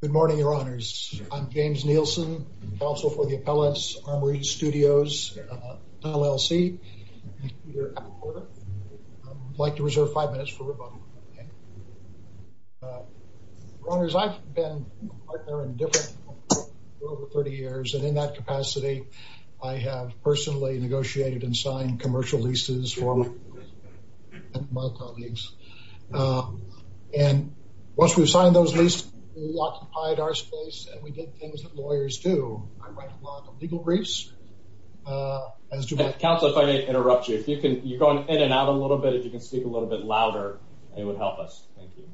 Good morning, Your Honors. I'm James Nielsen, Counsel for the Appellants, Armory Studios, LLC. I'd like to reserve five minutes for rebuttal. Your Honors, I've been a partner in different companies for over 30 years, and in that capacity I have personally negotiated and signed commercial leases for my colleagues. And once we've signed those leases, we occupied our space and we did things that lawyers do. I write a lot of legal briefs, as do my... Counsel, if I may interrupt you, if you can, you're going in and out a little bit, if you can speak a little bit louder, it would help us. Thank you.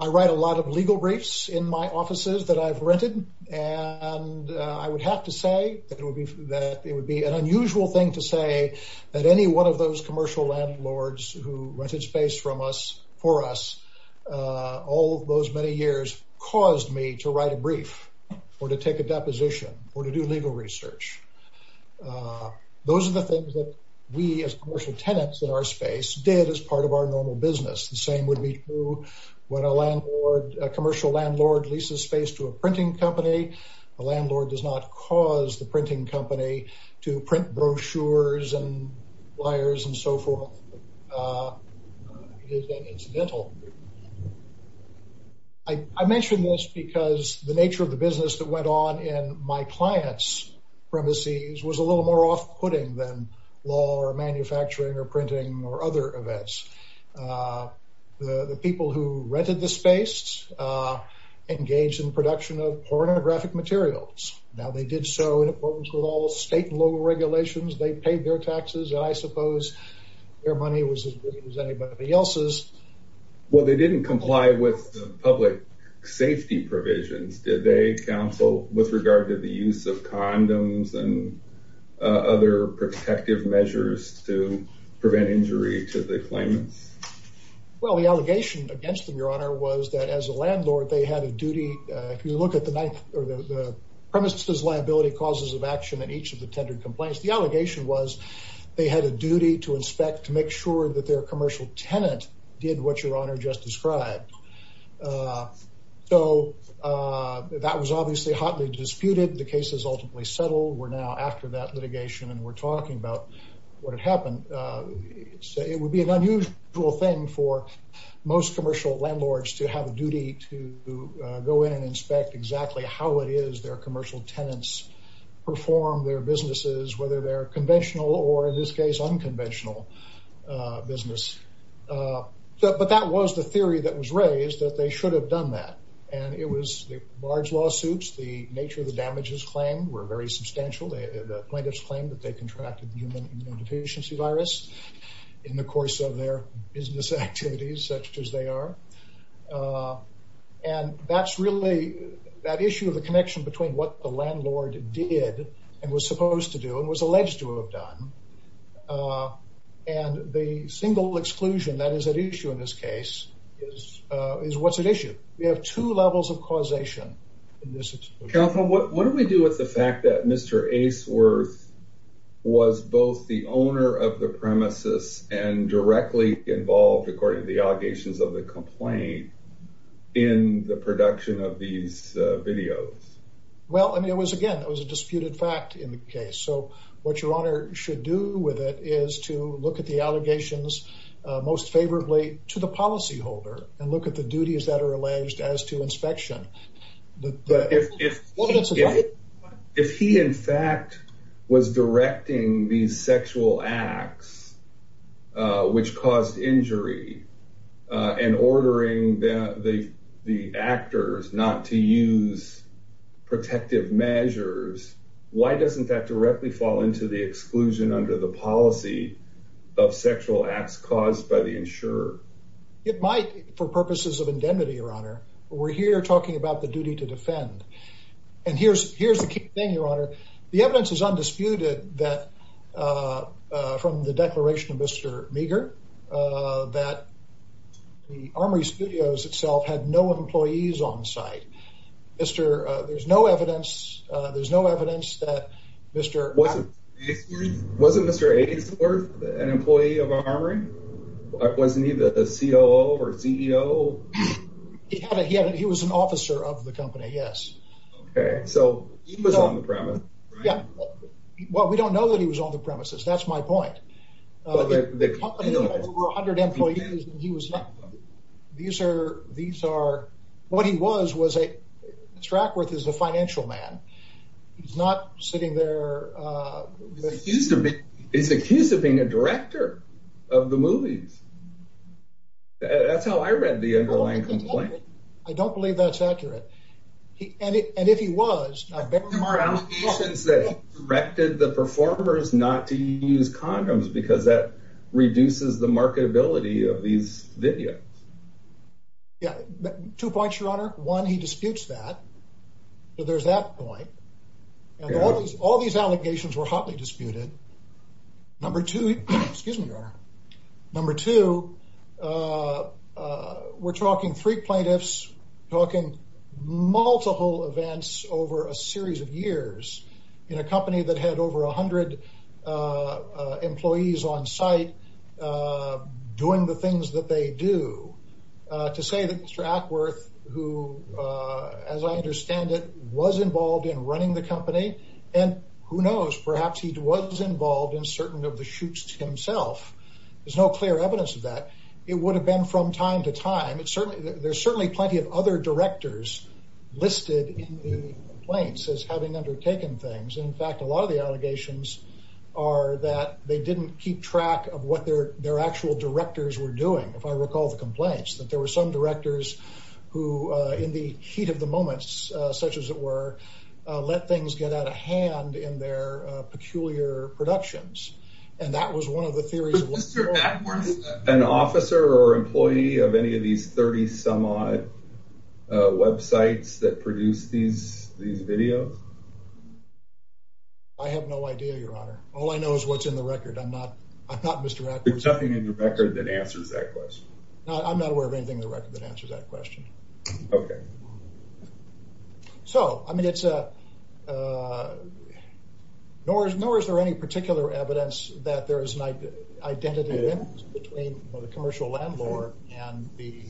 I write a lot of legal briefs in my offices that I've rented, and I would have to say that it would be an unusual thing to say that any one of those commercial landlords who rented space from us, for us, all those many years caused me to write a brief, or to take a deposition, or to do legal research. Those are the things that we as commercial tenants in our space did as part of our normal business. The same would be true when a landlord, a commercial landlord leases space to a printing company, the landlord does not cause the printing company to print brochures and flyers and so forth. It is an incidental. I mention this because the nature of the business that went on in my clients' premises was a little more off-putting than law or manufacturing or printing or other events. The people who rented the space engaged in production of pornographic materials. Now, they did so in accordance with all state and local regulations. They paid their taxes, and I suppose their money was as good as anybody else's. Well, they didn't comply with the public safety provisions, did they, counsel, with regard to the use of condoms and other protective measures to reclaim it? Well, the allegation against them, your honor, was that as a landlord, they had a duty. If you look at the ninth or the premises liability causes of action in each of the tendered complaints, the allegation was they had a duty to inspect to make sure that their commercial tenant did what your honor just described. So, that was obviously hotly disputed. The case is ultimately settled. We're now after that litigation, and we're talking about what had happened. It would be an unusual thing for most commercial landlords to have a duty to go in and inspect exactly how it is their commercial tenants perform their businesses, whether they're conventional or, in this case, unconventional business. But that was the theory that was raised, that they should have done that. And it was large lawsuits. The nature of the damages claimed were very substantial. The plaintiffs claimed that they contracted the human immunodeficiency virus in the course of their business activities, such as they are. And that's really that issue of the connection between what the landlord did and was supposed to do and was alleged to have done. And the single exclusion that is at issue in this case is what's at issue. We have two levels of causation in this. Counsel, what do we do with the fact that Mr. Aceworth was both the owner of the premises and directly involved, according to the allegations of the complaint, in the production of these videos? Well, I mean, it was, again, that was a disputed fact in the case. So, what your honor should do with it is to look at the allegations most favorably to the policyholder and look at the duties that are alleged as to inspection. If he, in fact, was directing these sexual acts which caused injury and ordering the actors not to use protective measures, why doesn't that directly fall into the exclusion under the policy of sexual acts caused by the insurer? It might, for purposes of indemnity, your honor. But we're here talking about the duty to defend. And here's the key thing, your honor. The evidence is undisputed that from the declaration of Mr. Meagher that the Armory Studios itself had no employees on site. There's no evidence that Mr. Meagher... Wasn't Mr. Aceworth an employee of Armory? Wasn't he the COO or CEO? He was an officer of the company, yes. Okay. So, he was on the premise. Yeah. Well, we don't know that he was on the premises. That's my point. The company has over 100 employees and he was not. These are... What he was was a... Strackworth is a financial man. He's not sitting there... He's accused of being a director of the movies. That's how I read the underlying complaint. I don't believe that's accurate. And if he was... There were allegations that he directed the performers not to use condoms because that reduces the marketability of these videos. Yeah. Two points, your honor. One, he disputes that. So, there's that point. And all these allegations were hotly disputed. Number two... Excuse me, your honor. Number two, we're talking three plaintiffs talking multiple events over a series of years in a company that had over 100 employees on site doing the things that they do. To say that Mr. Aceworth who, as I understand it, was involved in running the company and who knows, perhaps he was involved in certain of the shoots himself. There's no clear evidence of that. It would have been from time to time. It's certainly... There's certainly plenty of other directors listed in the complaints as having undertaken things. In fact, a lot of the allegations are that they didn't keep track of what their actual directors were doing. If I recall the complaints, that there were some directors who in the heat of the moments, such as it were, let things get out of hand in their peculiar productions. And that was one of the theories of... Mr. Aceworth is an officer or employee of any of these 30 some odd websites that produce these videos? I have no idea, your honor. All I know is what's in the record. I'm not Mr. Aceworth. There's nothing in the record that answers that question. I'm not aware of anything in the record that answers that question. Okay. So, I mean, it's... Nor is there any particular evidence that there is an identity between the commercial landlord and the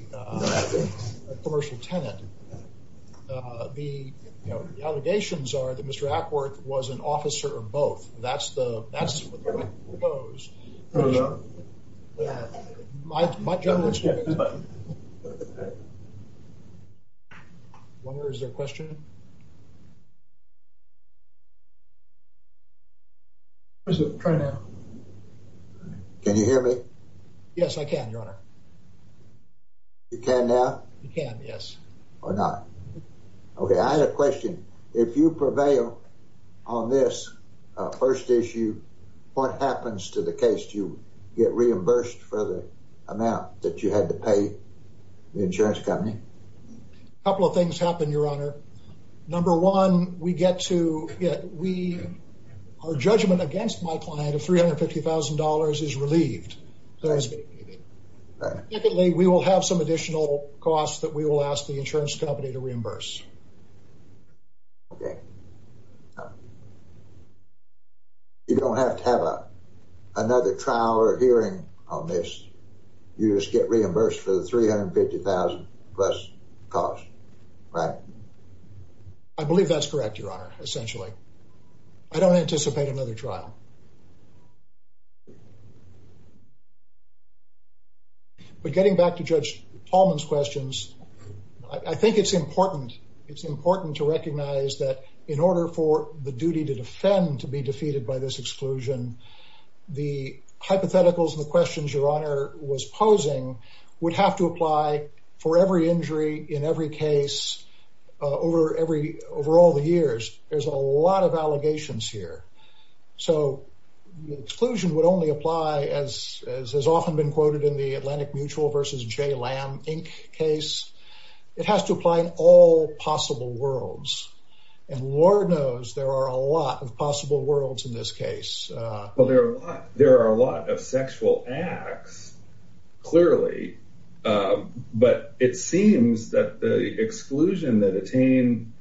commercial tenant. The allegations are that Mr. Aceworth was an officer of both. That's the... Wonder, is there a question? Can you hear me? Yes, I can, your honor. You can now? You can, yes. Or not. Okay, I have a question. If you prevail on this first issue, what happens to the case? Do you get reimbursed for the amount that you had to pay the insurance company? A couple of things happen, your honor. Number one, we get to... Our judgment against my client of $350,000 is relieved. Secondly, we will have some additional costs that we will ask the insurance company to reimburse. Okay. You don't have to have another trial or hearing on this. You just get reimbursed for the $350,000 plus cost, right? I believe that's correct, your honor, essentially. I don't know. But getting back to Judge Tallman's questions, I think it's important. It's important to recognize that in order for the duty to defend to be defeated by this exclusion, the hypotheticals and the questions your honor was posing would have to apply for every injury in every case over all the years. There's a lot of allegations here. So the exclusion would only apply, as has often been quoted in the Atlantic Mutual versus J. Lamb Inc. case, it has to apply in all possible worlds. And Lord knows there are a lot of possible worlds in this case. Well, there are a lot of sexual acts, clearly. But it seems that the exclusion that Attain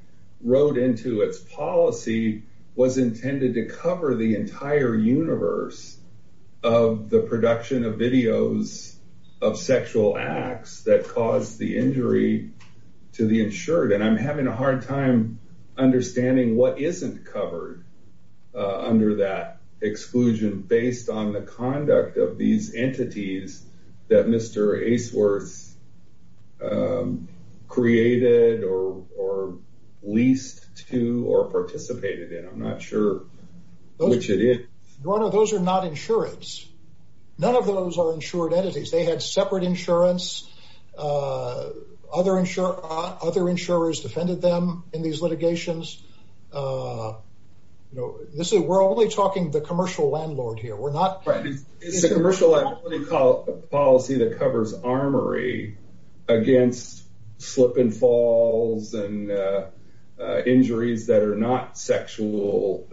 wrote into its policy was intended to cover the entire universe of the production of videos of sexual acts that caused the injury to the insured. And I'm having a hard time understanding what isn't covered under that exclusion based on the conduct of these entities that Mr. Aceworth created or leased to or participated in. I'm not sure which it is. Your honor, those are not insurance. None of those are insured entities. They had separate insurance. Other insurers defended them in these litigations. We're only talking the commercial landlord here. It's a commercial policy that covers armory against slip and falls and injuries that are not sexual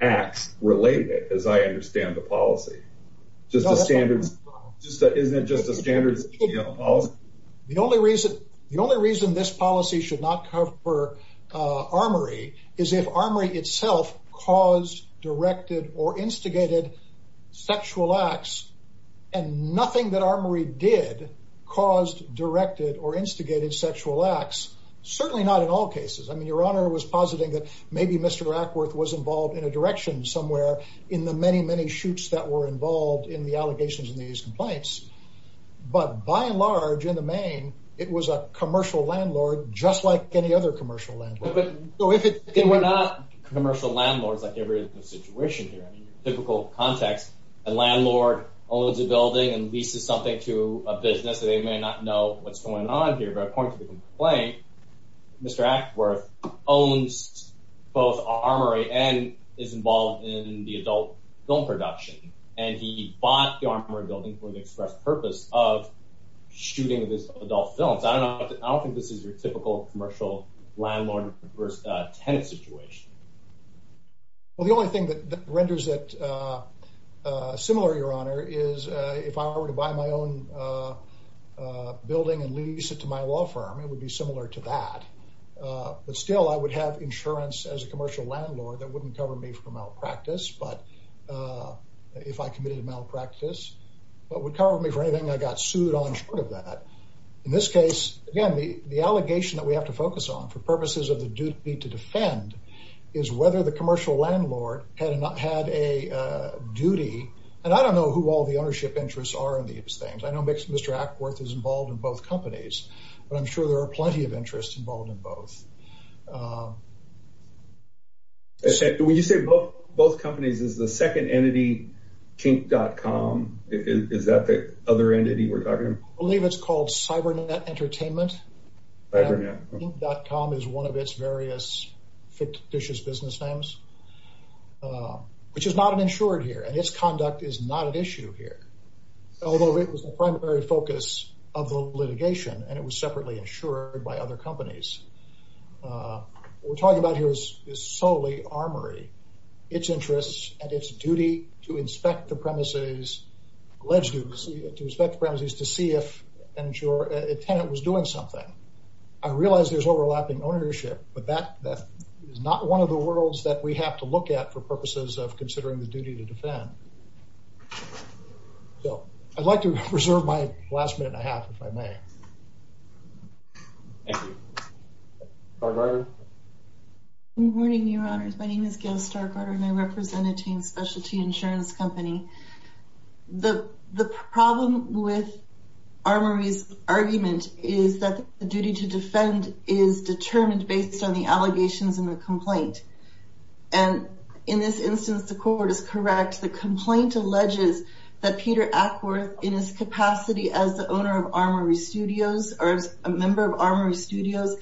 acts related, as I understand the policy. Isn't it just a standards policy? The only reason this policy should not cover armory is if armory itself caused, directed, or instigated sexual acts, and nothing that armory did caused, directed, or instigated sexual acts. Certainly not in all cases. I mean, your honor was positing that maybe Mr. Acworth was involved in a direction somewhere in the many, many shoots that were involved in the allegations in these complaints. But by and large, in the main, it was a commercial landlord just like any other commercial landlord. But we're not commercial landlords like every situation here. I mean, typical context, a landlord owns a building and leases something to a business. They may not know what's going on here. But according to the complaint, Mr. Acworth owns both armory and is involved in the adult film production. And he bought the armory building for the express purpose of shooting this adult films. I don't know. I don't think this is your typical commercial landlord versus tenant situation. Well, the only thing that renders it similar, your honor, is if I were to buy my own building and lease it to my law firm, it would be similar to that. But still, I would have insurance as a commercial landlord that if I committed a malpractice, but would cover me for anything I got sued on short of that. In this case, again, the allegation that we have to focus on for purposes of the duty to defend is whether the commercial landlord had a duty. And I don't know who all the ownership interests are in these things. I know Mr. Acworth is involved in both companies, but I'm sure there are plenty of interests involved in both. When you say both companies, is the second entity Kink.com, is that the other entity we're talking about? I believe it's called Cybernet Entertainment. Kink.com is one of its various fictitious business names, which is not insured here, and its conduct is not an issue here. Although it was the primary focus of the litigation, and it was separately insured by other companies. What we're talking about here is solely armory, its interests, and its duty to inspect the premises, to see if a tenant was doing something. I realize there's overlapping ownership, but that is not one of the worlds that we have to look at for purposes of considering the duty to defend. So I'd like to reserve my last minute and a half, if I may. Thank you. Good morning, your honors. My name is Gail Stargardner, and I represent a teen specialty insurance company. The problem with Armory's argument is that the duty to defend is determined based on the allegations in the complaint. And in this instance, the court is correct. The complaint alleges that Peter Ackworth, in his capacity as the owner of Armory Studios, or as a member of Armory Studios,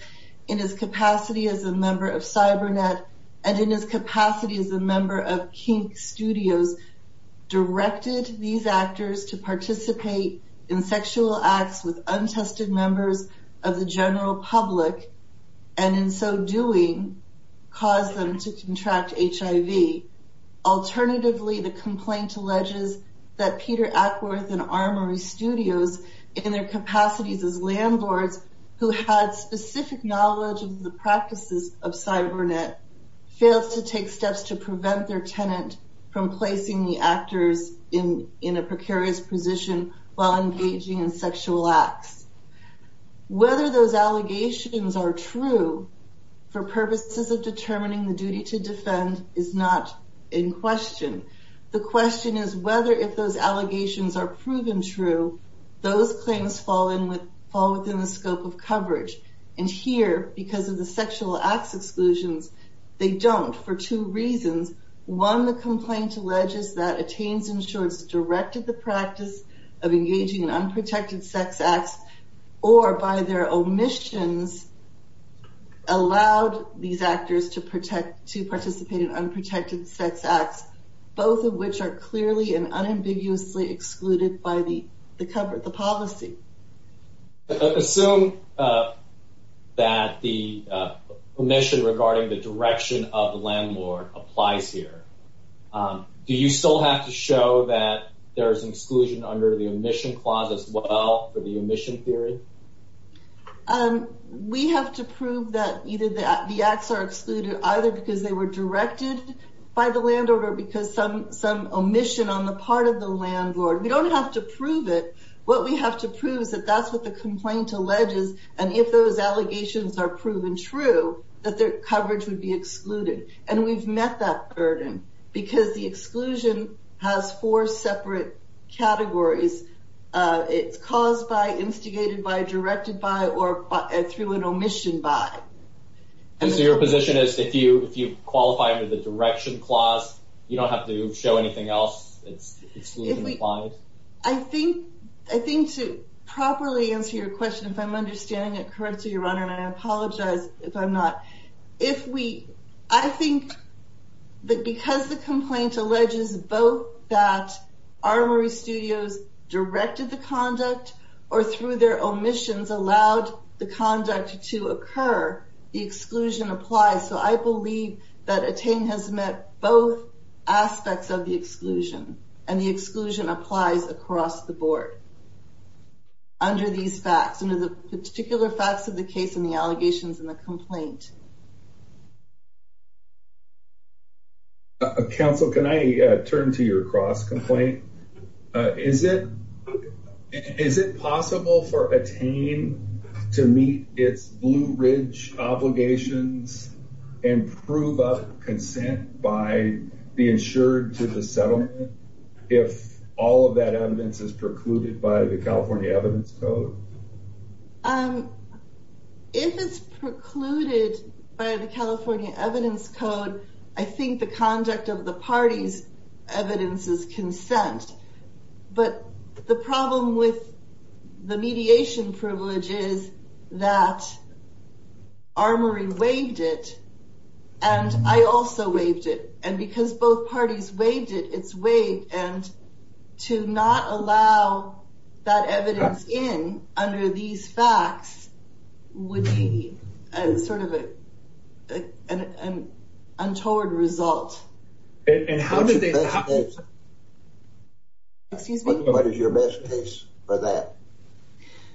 in his capacity as a member of Cybernet, and in his capacity as a member of Kink Studios, directed these actors to participate in sexual acts with untested members of the general public, and in so doing, caused them to contract HIV. Alternatively, the complaint alleges that Peter Ackworth and Armory Studios, in their capacities as landlords who had specific knowledge of the practices of Cybernet, failed to take steps to prevent their tenant from placing the actors in a precarious position while engaging in sexual acts. Whether those allegations are true for purposes of determining the duty to defend is not in question. The question is whether, if those allegations are proven true, those claims fall within the scope of coverage. And here, because of the sexual acts exclusions, they don't for two reasons. One, the complaint alleges that Attains Insurance directed the practice of engaging in unprotected sex acts, or by their omissions, allowed these actors to participate in unprotected sex acts, both of which are clearly and unambiguously excluded by the policy. Assume that the omission regarding the direction of the landlord applies here. Do you still have to show that there is an exclusion under the omission clause as well for the omission theory? We have to prove that either the acts are excluded either because they were directed by the landlord or because some omission on the part of the landlord. We don't have to prove it. What we have to prove is that that's what the complaint alleges, and if those allegations are proven true, that their coverage would be excluded. And we've met that burden because the exclusion has four separate categories. It's caused by, instigated by, directed by, or through an omission by. So your position is if you qualify under the direction clause, you don't have to show anything else? It's excluded? I think, I think to properly answer your question, if I'm understanding it correctly, your honor, and I apologize if I'm not, if we, I think that because the complaint alleges both that Armory Studios directed the conduct or through their omissions allowed the conduct to occur, the exclusion applies. So I believe that ATTAIN has met both aspects of the exclusion, and the exclusion applies across the board under these facts, under the particular facts of the case and the allegations in the complaint. Counsel, can I turn to your cross-complaint? Is it, is it possible for ATTAIN to meet its Blue Ridge obligations and prove up consent by the insured to the settlement, if all of that evidence is precluded by the California Evidence Code? If it's precluded by the California Evidence Code, I think the conduct of the parties' evidence is consent. But the problem with the mediation privilege is that Armory waived it, and I also waived it. And because both parties waived it, it's waived, and to not allow that evidence in under these facts would be sort of an untoward result. And how did they, excuse me? What is your best case for that?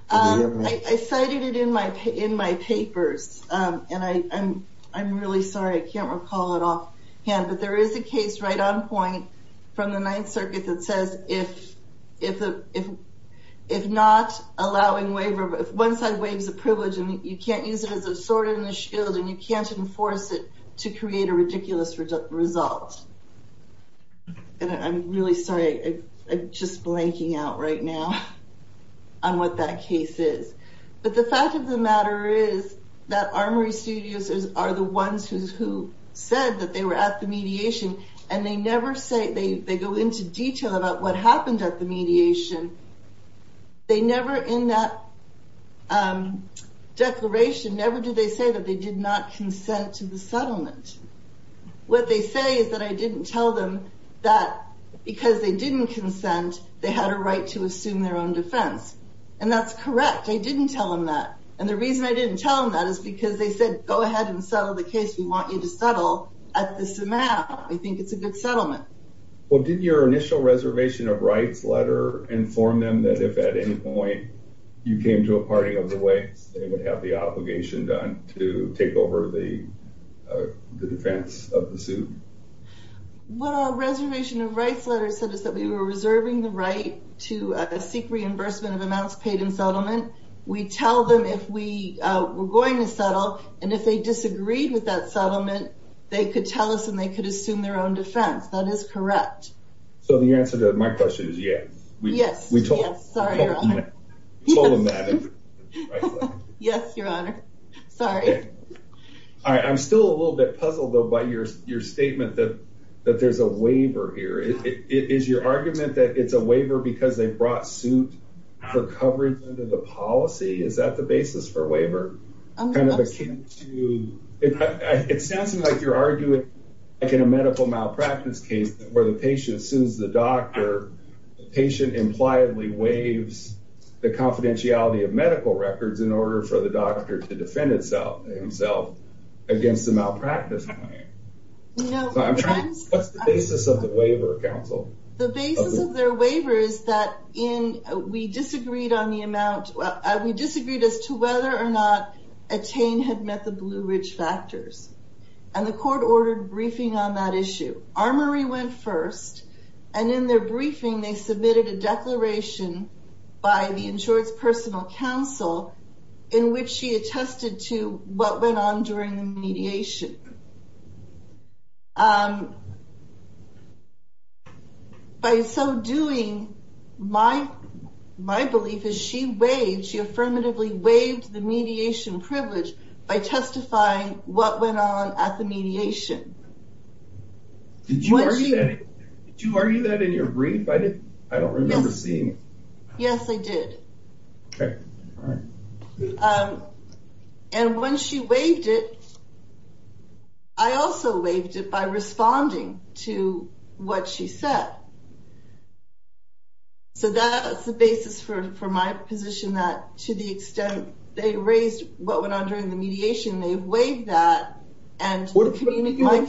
I cited it in my papers, and I'm really sorry, I can't recall it off hand, but there is a case right on point from the Ninth Circuit that says if not allowing waiver, if one side waives a privilege and you can't use it as a sword in the shield, and you can't enforce it to create a fault. And I'm really sorry, I'm just blanking out right now on what that case is. But the fact of the matter is that Armory Studios are the ones who said that they were at the mediation, and they never say, they go into detail about what happened at the mediation. They never, in that declaration, never did they say that they did not consent to the settlement. What they say is that I didn't tell them that because they didn't consent, they had a right to assume their own defense. And that's correct, I didn't tell them that. And the reason I didn't tell them that is because they said, go ahead and settle the case, we want you to settle at this amount, we think it's a good settlement. Well, did your initial reservation of rights letter inform them that if at any point you came to a party of the way, they would have the defense of the suit? Well, our reservation of rights letter said is that we were reserving the right to seek reimbursement of amounts paid in settlement. We tell them if we were going to settle and if they disagreed with that settlement, they could tell us and they could assume their own defense. That is correct. So the answer to my question is yes. Yes, we told them that. Right? Yes, Your Honor. Sorry. All right. I'm still a little bit puzzled by your statement that there's a waiver here. Is your argument that it's a waiver because they brought suit for coverage under the policy? Is that the basis for waiver? It sounds like you're arguing like in a medical malpractice case where the patient sues the doctor, the patient impliedly records in order for the doctor to defend himself against the malpractice. What's the basis of the waiver counsel? The basis of their waiver is that in we disagreed on the amount we disagreed as to whether or not attain had met the Blue Ridge factors. And the court ordered briefing on that issue. Armory went first. And in their briefing, they submitted a declaration by the insurance personal counsel in which she attested to what went on during the mediation. By so doing, my belief is she waived, she affirmatively waived the mediation privilege by testifying what went on at the mediation. Did you argue that in your brief? I don't remember seeing it. Yes, I did. Okay. All right. And when she waived it, I also waived it by responding to what she said. So that's the basis for my position that to the extent they raised what went on during the mediation, my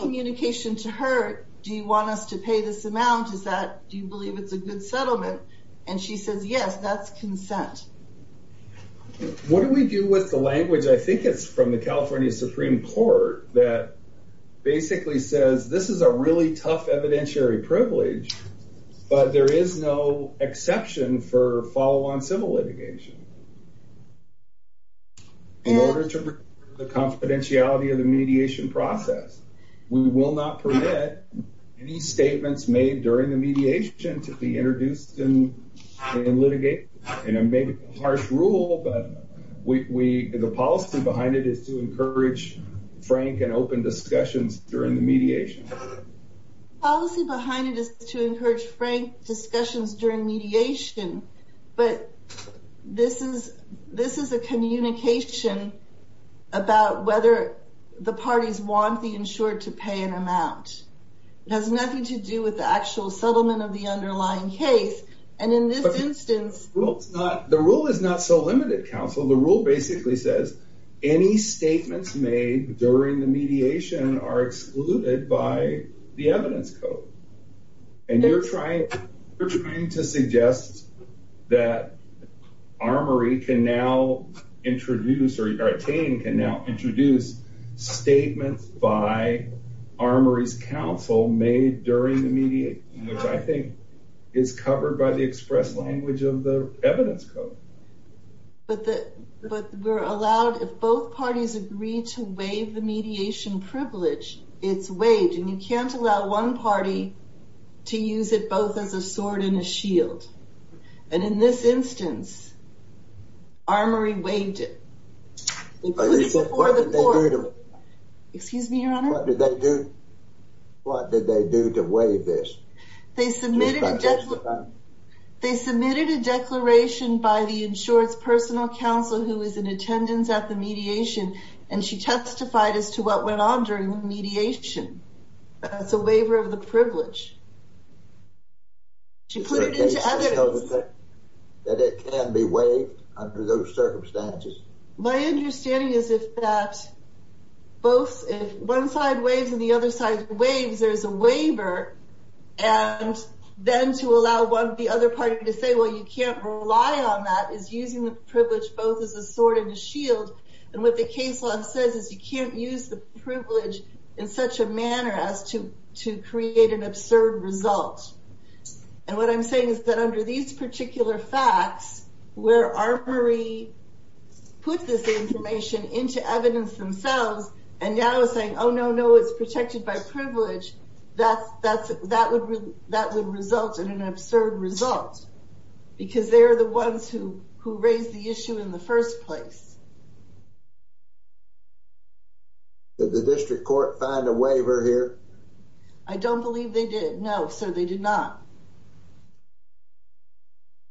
communication to her, do you want us to pay this amount? Is that do you believe it's a good settlement? And she says, yes, that's consent. What do we do with the language? I think it's from the California Supreme Court that basically says this is a really tough evidentiary privilege, but there is no exception for follow on civil litigation. In order to the confidentiality of the mediation process, we will not permit any statements made during the mediation to be introduced in litigate and make a harsh rule. But the policy behind it is to encourage frank and open discussions during the mediation. Policy behind it is to encourage frank discussions during mediation. But this is a communication about whether the parties want the insured to pay an amount. It has nothing to do with the actual settlement of the underlying case. And in this instance, the rule is not so limited counsel. The rule basically says any statements made during the mediation are covered by the evidence code. And you're trying to suggest that Armory can now introduce or can now introduce statements by Armory's counsel made during the mediation, which I think is covered by the express language of the evidence code. But we're allowed if both parties agree to waive the mediation privilege, it's waived and you can't allow one party to use it both as a sword and a shield. And in this instance, Armory waived it. Excuse me, your honor. What did they do? What did they do to waive this? They submitted a declaration by the insured's personal counsel who is in attendance at the mediation. That's a waiver of the privilege. To put it into evidence. That it can be waived under those circumstances. My understanding is that if one side waives and the other side waives, there's a waiver. And then to allow the other party to say, well, you can't rely on that is using the privilege both as a sword and a shield. And what the case law says is you can't use the privilege such a manner as to create an absurd result. And what I'm saying is that under these particular facts, where Armory put this information into evidence themselves and now is saying, oh, no, no, it's protected by privilege. That would result in an absurd result. Because they're the ones who raised the issue in the first place. Did the district court find a waiver here? I don't believe they did. No, sir, they did not.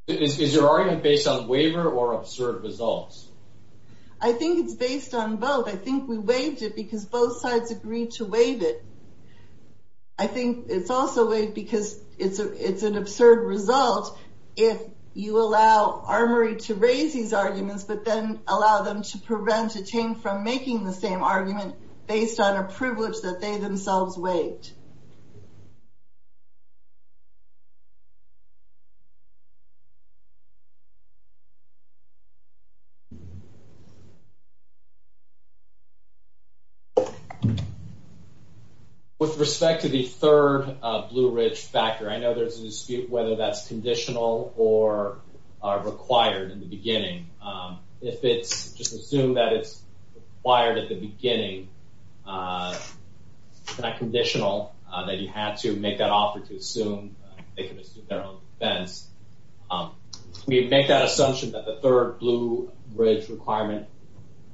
Is your argument based on waiver or absurd results? I think it's based on both. I think we waived it because both sides agreed to waive it. I think it's also because it's an absurd result if you allow Armory to raise these arguments, but then allow them to prevent a team from making the same argument based on a privilege that they themselves waived. With respect to the third Blue Ridge factor, I know there's a dispute whether that's conditional or required in the beginning. If it's just assumed that it's required at the beginning, it's not conditional that you have to make that offer to assume they can assume their own defense. We make that assumption that the third Blue Ridge requirement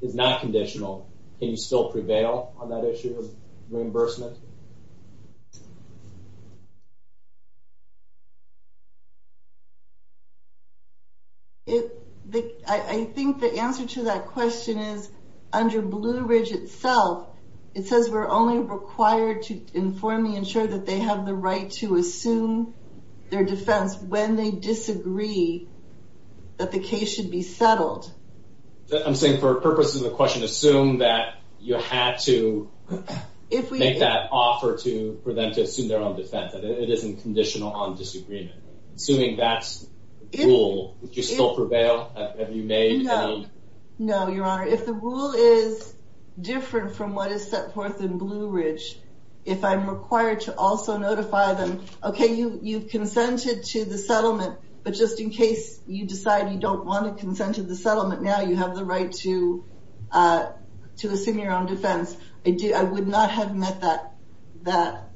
is not conditional. Can you still prevail on that issue of reimbursement? I think the answer to that question is under Blue Ridge itself, it says we're only required to inform the insurer that they have the right to assume their defense when they disagree that the case should be settled. I'm saying for purposes of the question, assume that you had to make that offer for them to assume their own defense. It isn't conditional on disagreement. Assuming that's the rule, would you still prevail? No, Your Honor. If the rule is different from what is set forth in Blue Ridge, if I'm required to also notify them, okay, you've consented to the settlement, but just in case you decide you don't want to consent to the settlement now, you have the right to assume your own defense, I would not have met that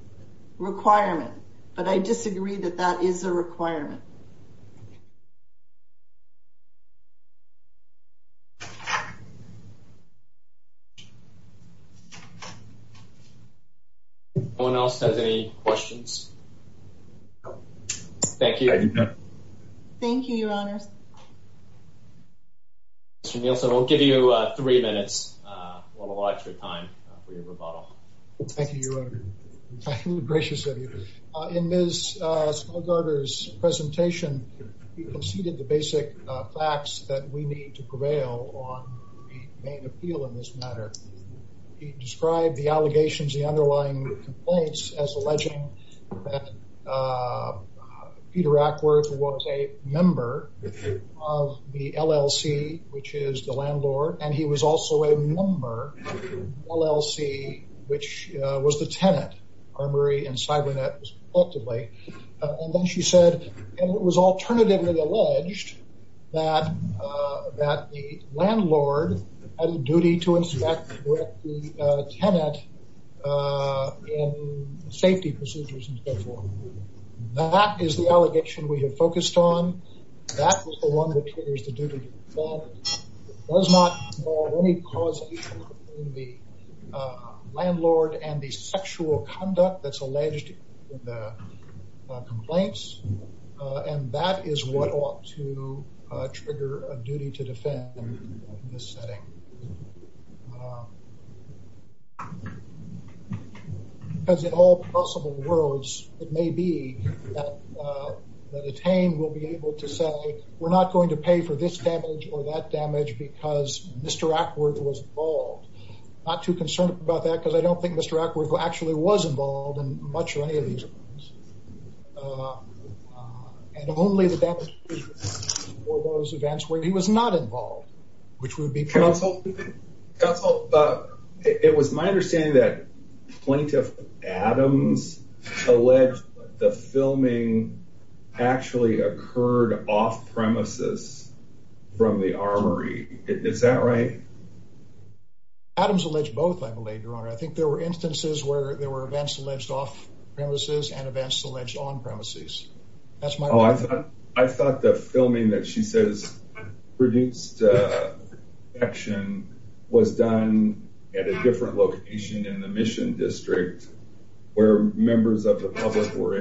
requirement, but I disagree that that is a requirement. Anyone else has any questions? Thank you. Thank you, Your Honor. Mr. Nielsen, I'll give you three minutes, a lot of extra time for your rebuttal. Thank you, Your Honor. I'm gracious of you. In Ms. Smallgarter's presentation, you conceded the basic facts that we need to prevail on the main appeal in this matter. You described the allegations, the underlying complaints as alleging that Peter Ackworth was a member of the LLC, which is the landlord, and he was also a member of the LLC, which was the tenant, Armory and Cybernet was collectively, and then she said, and it was alternatively alleged that the landlord had a duty to inspect with the tenant in safety procedures and so forth. That is the allegation we have focused on. That is the one that triggers the duty to defend. It does not have any causation between the landlord and the sexual conduct that's alleged in the complaints, and that is what ought to trigger a duty to defend in this setting. Because in all possible worlds, it may be that a detainee will be able to say, we're not going to pay for this damage or that damage because Mr. Ackworth was involved. Not too concerned about that, because I don't think Mr. Ackworth actually was involved in much or any of these. And only the damage or those events where he was not involved, which would be counsel. Counsel, it was my understanding that Plaintiff Adams alleged the filming actually occurred off-premises from the Armory. Is that right? Adams alleged both, I believe, Your Honor. I think there were instances where there were events alleged off-premises and events alleged on-premises. That's my understanding. I thought the filming that she says produced action was done at a different location in the Mission District where members of the public were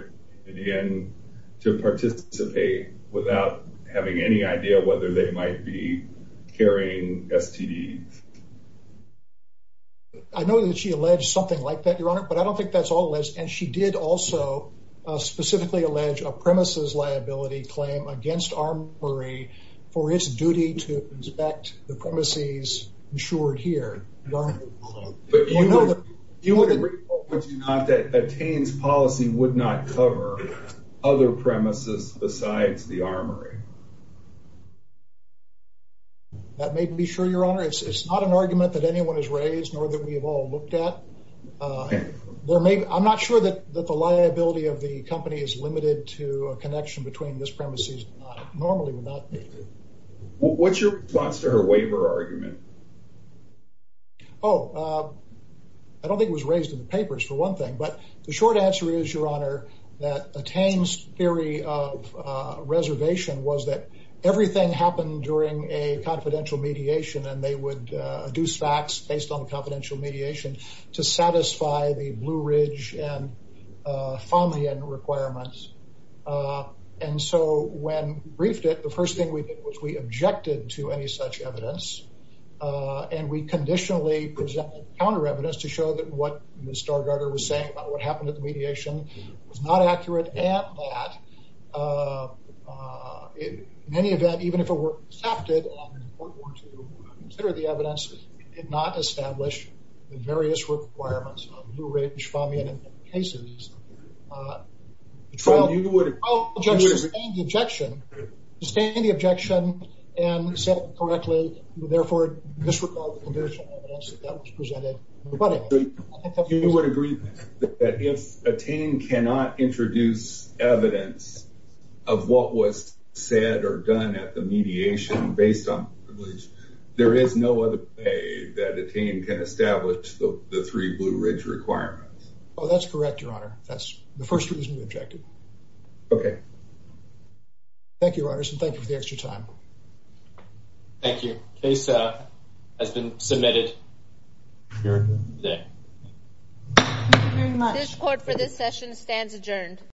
invited in to participate without having any idea whether they might be carrying STDs. I know that she alleged something like that, Your Honor, but I don't think that's all alleged. And she did also specifically allege a premises liability claim against Armory for its duty to inspect the premises insured here, Your Honor. But you would agree, would you not, that Tain's policy would not cover other premises besides the Armory? That may be true, Your Honor. It's not an argument that anyone has raised, nor that we've all looked at. I'm not sure that the liability of the company is limited to a connection between this premises normally would not be. What's your response to her waiver argument? Oh, I don't think it was raised in the papers, for one thing. But the short answer is, Your Honor, that Tain's theory of reservation was that everything happened during a confidential mediation and they would adduce facts based on confidential mediation to satisfy the Blue Ridge and Fomian requirements. And so when we briefed it, the first thing we did was we objected to any such evidence and we conditionally presented counter evidence to show that what Ms. Stargardner was saying about what happened at the mediation was not accurate and that in any event, even if it were accepted in a court order to consider the evidence, it did not establish the various requirements of Blue Ridge, Fomian, and Fomian cases. The trial judge sustained the objection and said correctly, therefore it disregarded the evidence that was presented. You would agree that if a Tain cannot introduce evidence of what was said or done at the mediation based on privilege, there is no other way that a Tain can establish the three Blue Ridge requirements? Oh, that's correct, Your Honor. That's the first reason we objected. Okay. Thank you, Your Honors, and thank you for the extra time. Thank you. Case has been submitted. Thank you very much. This court for this session stands adjourned.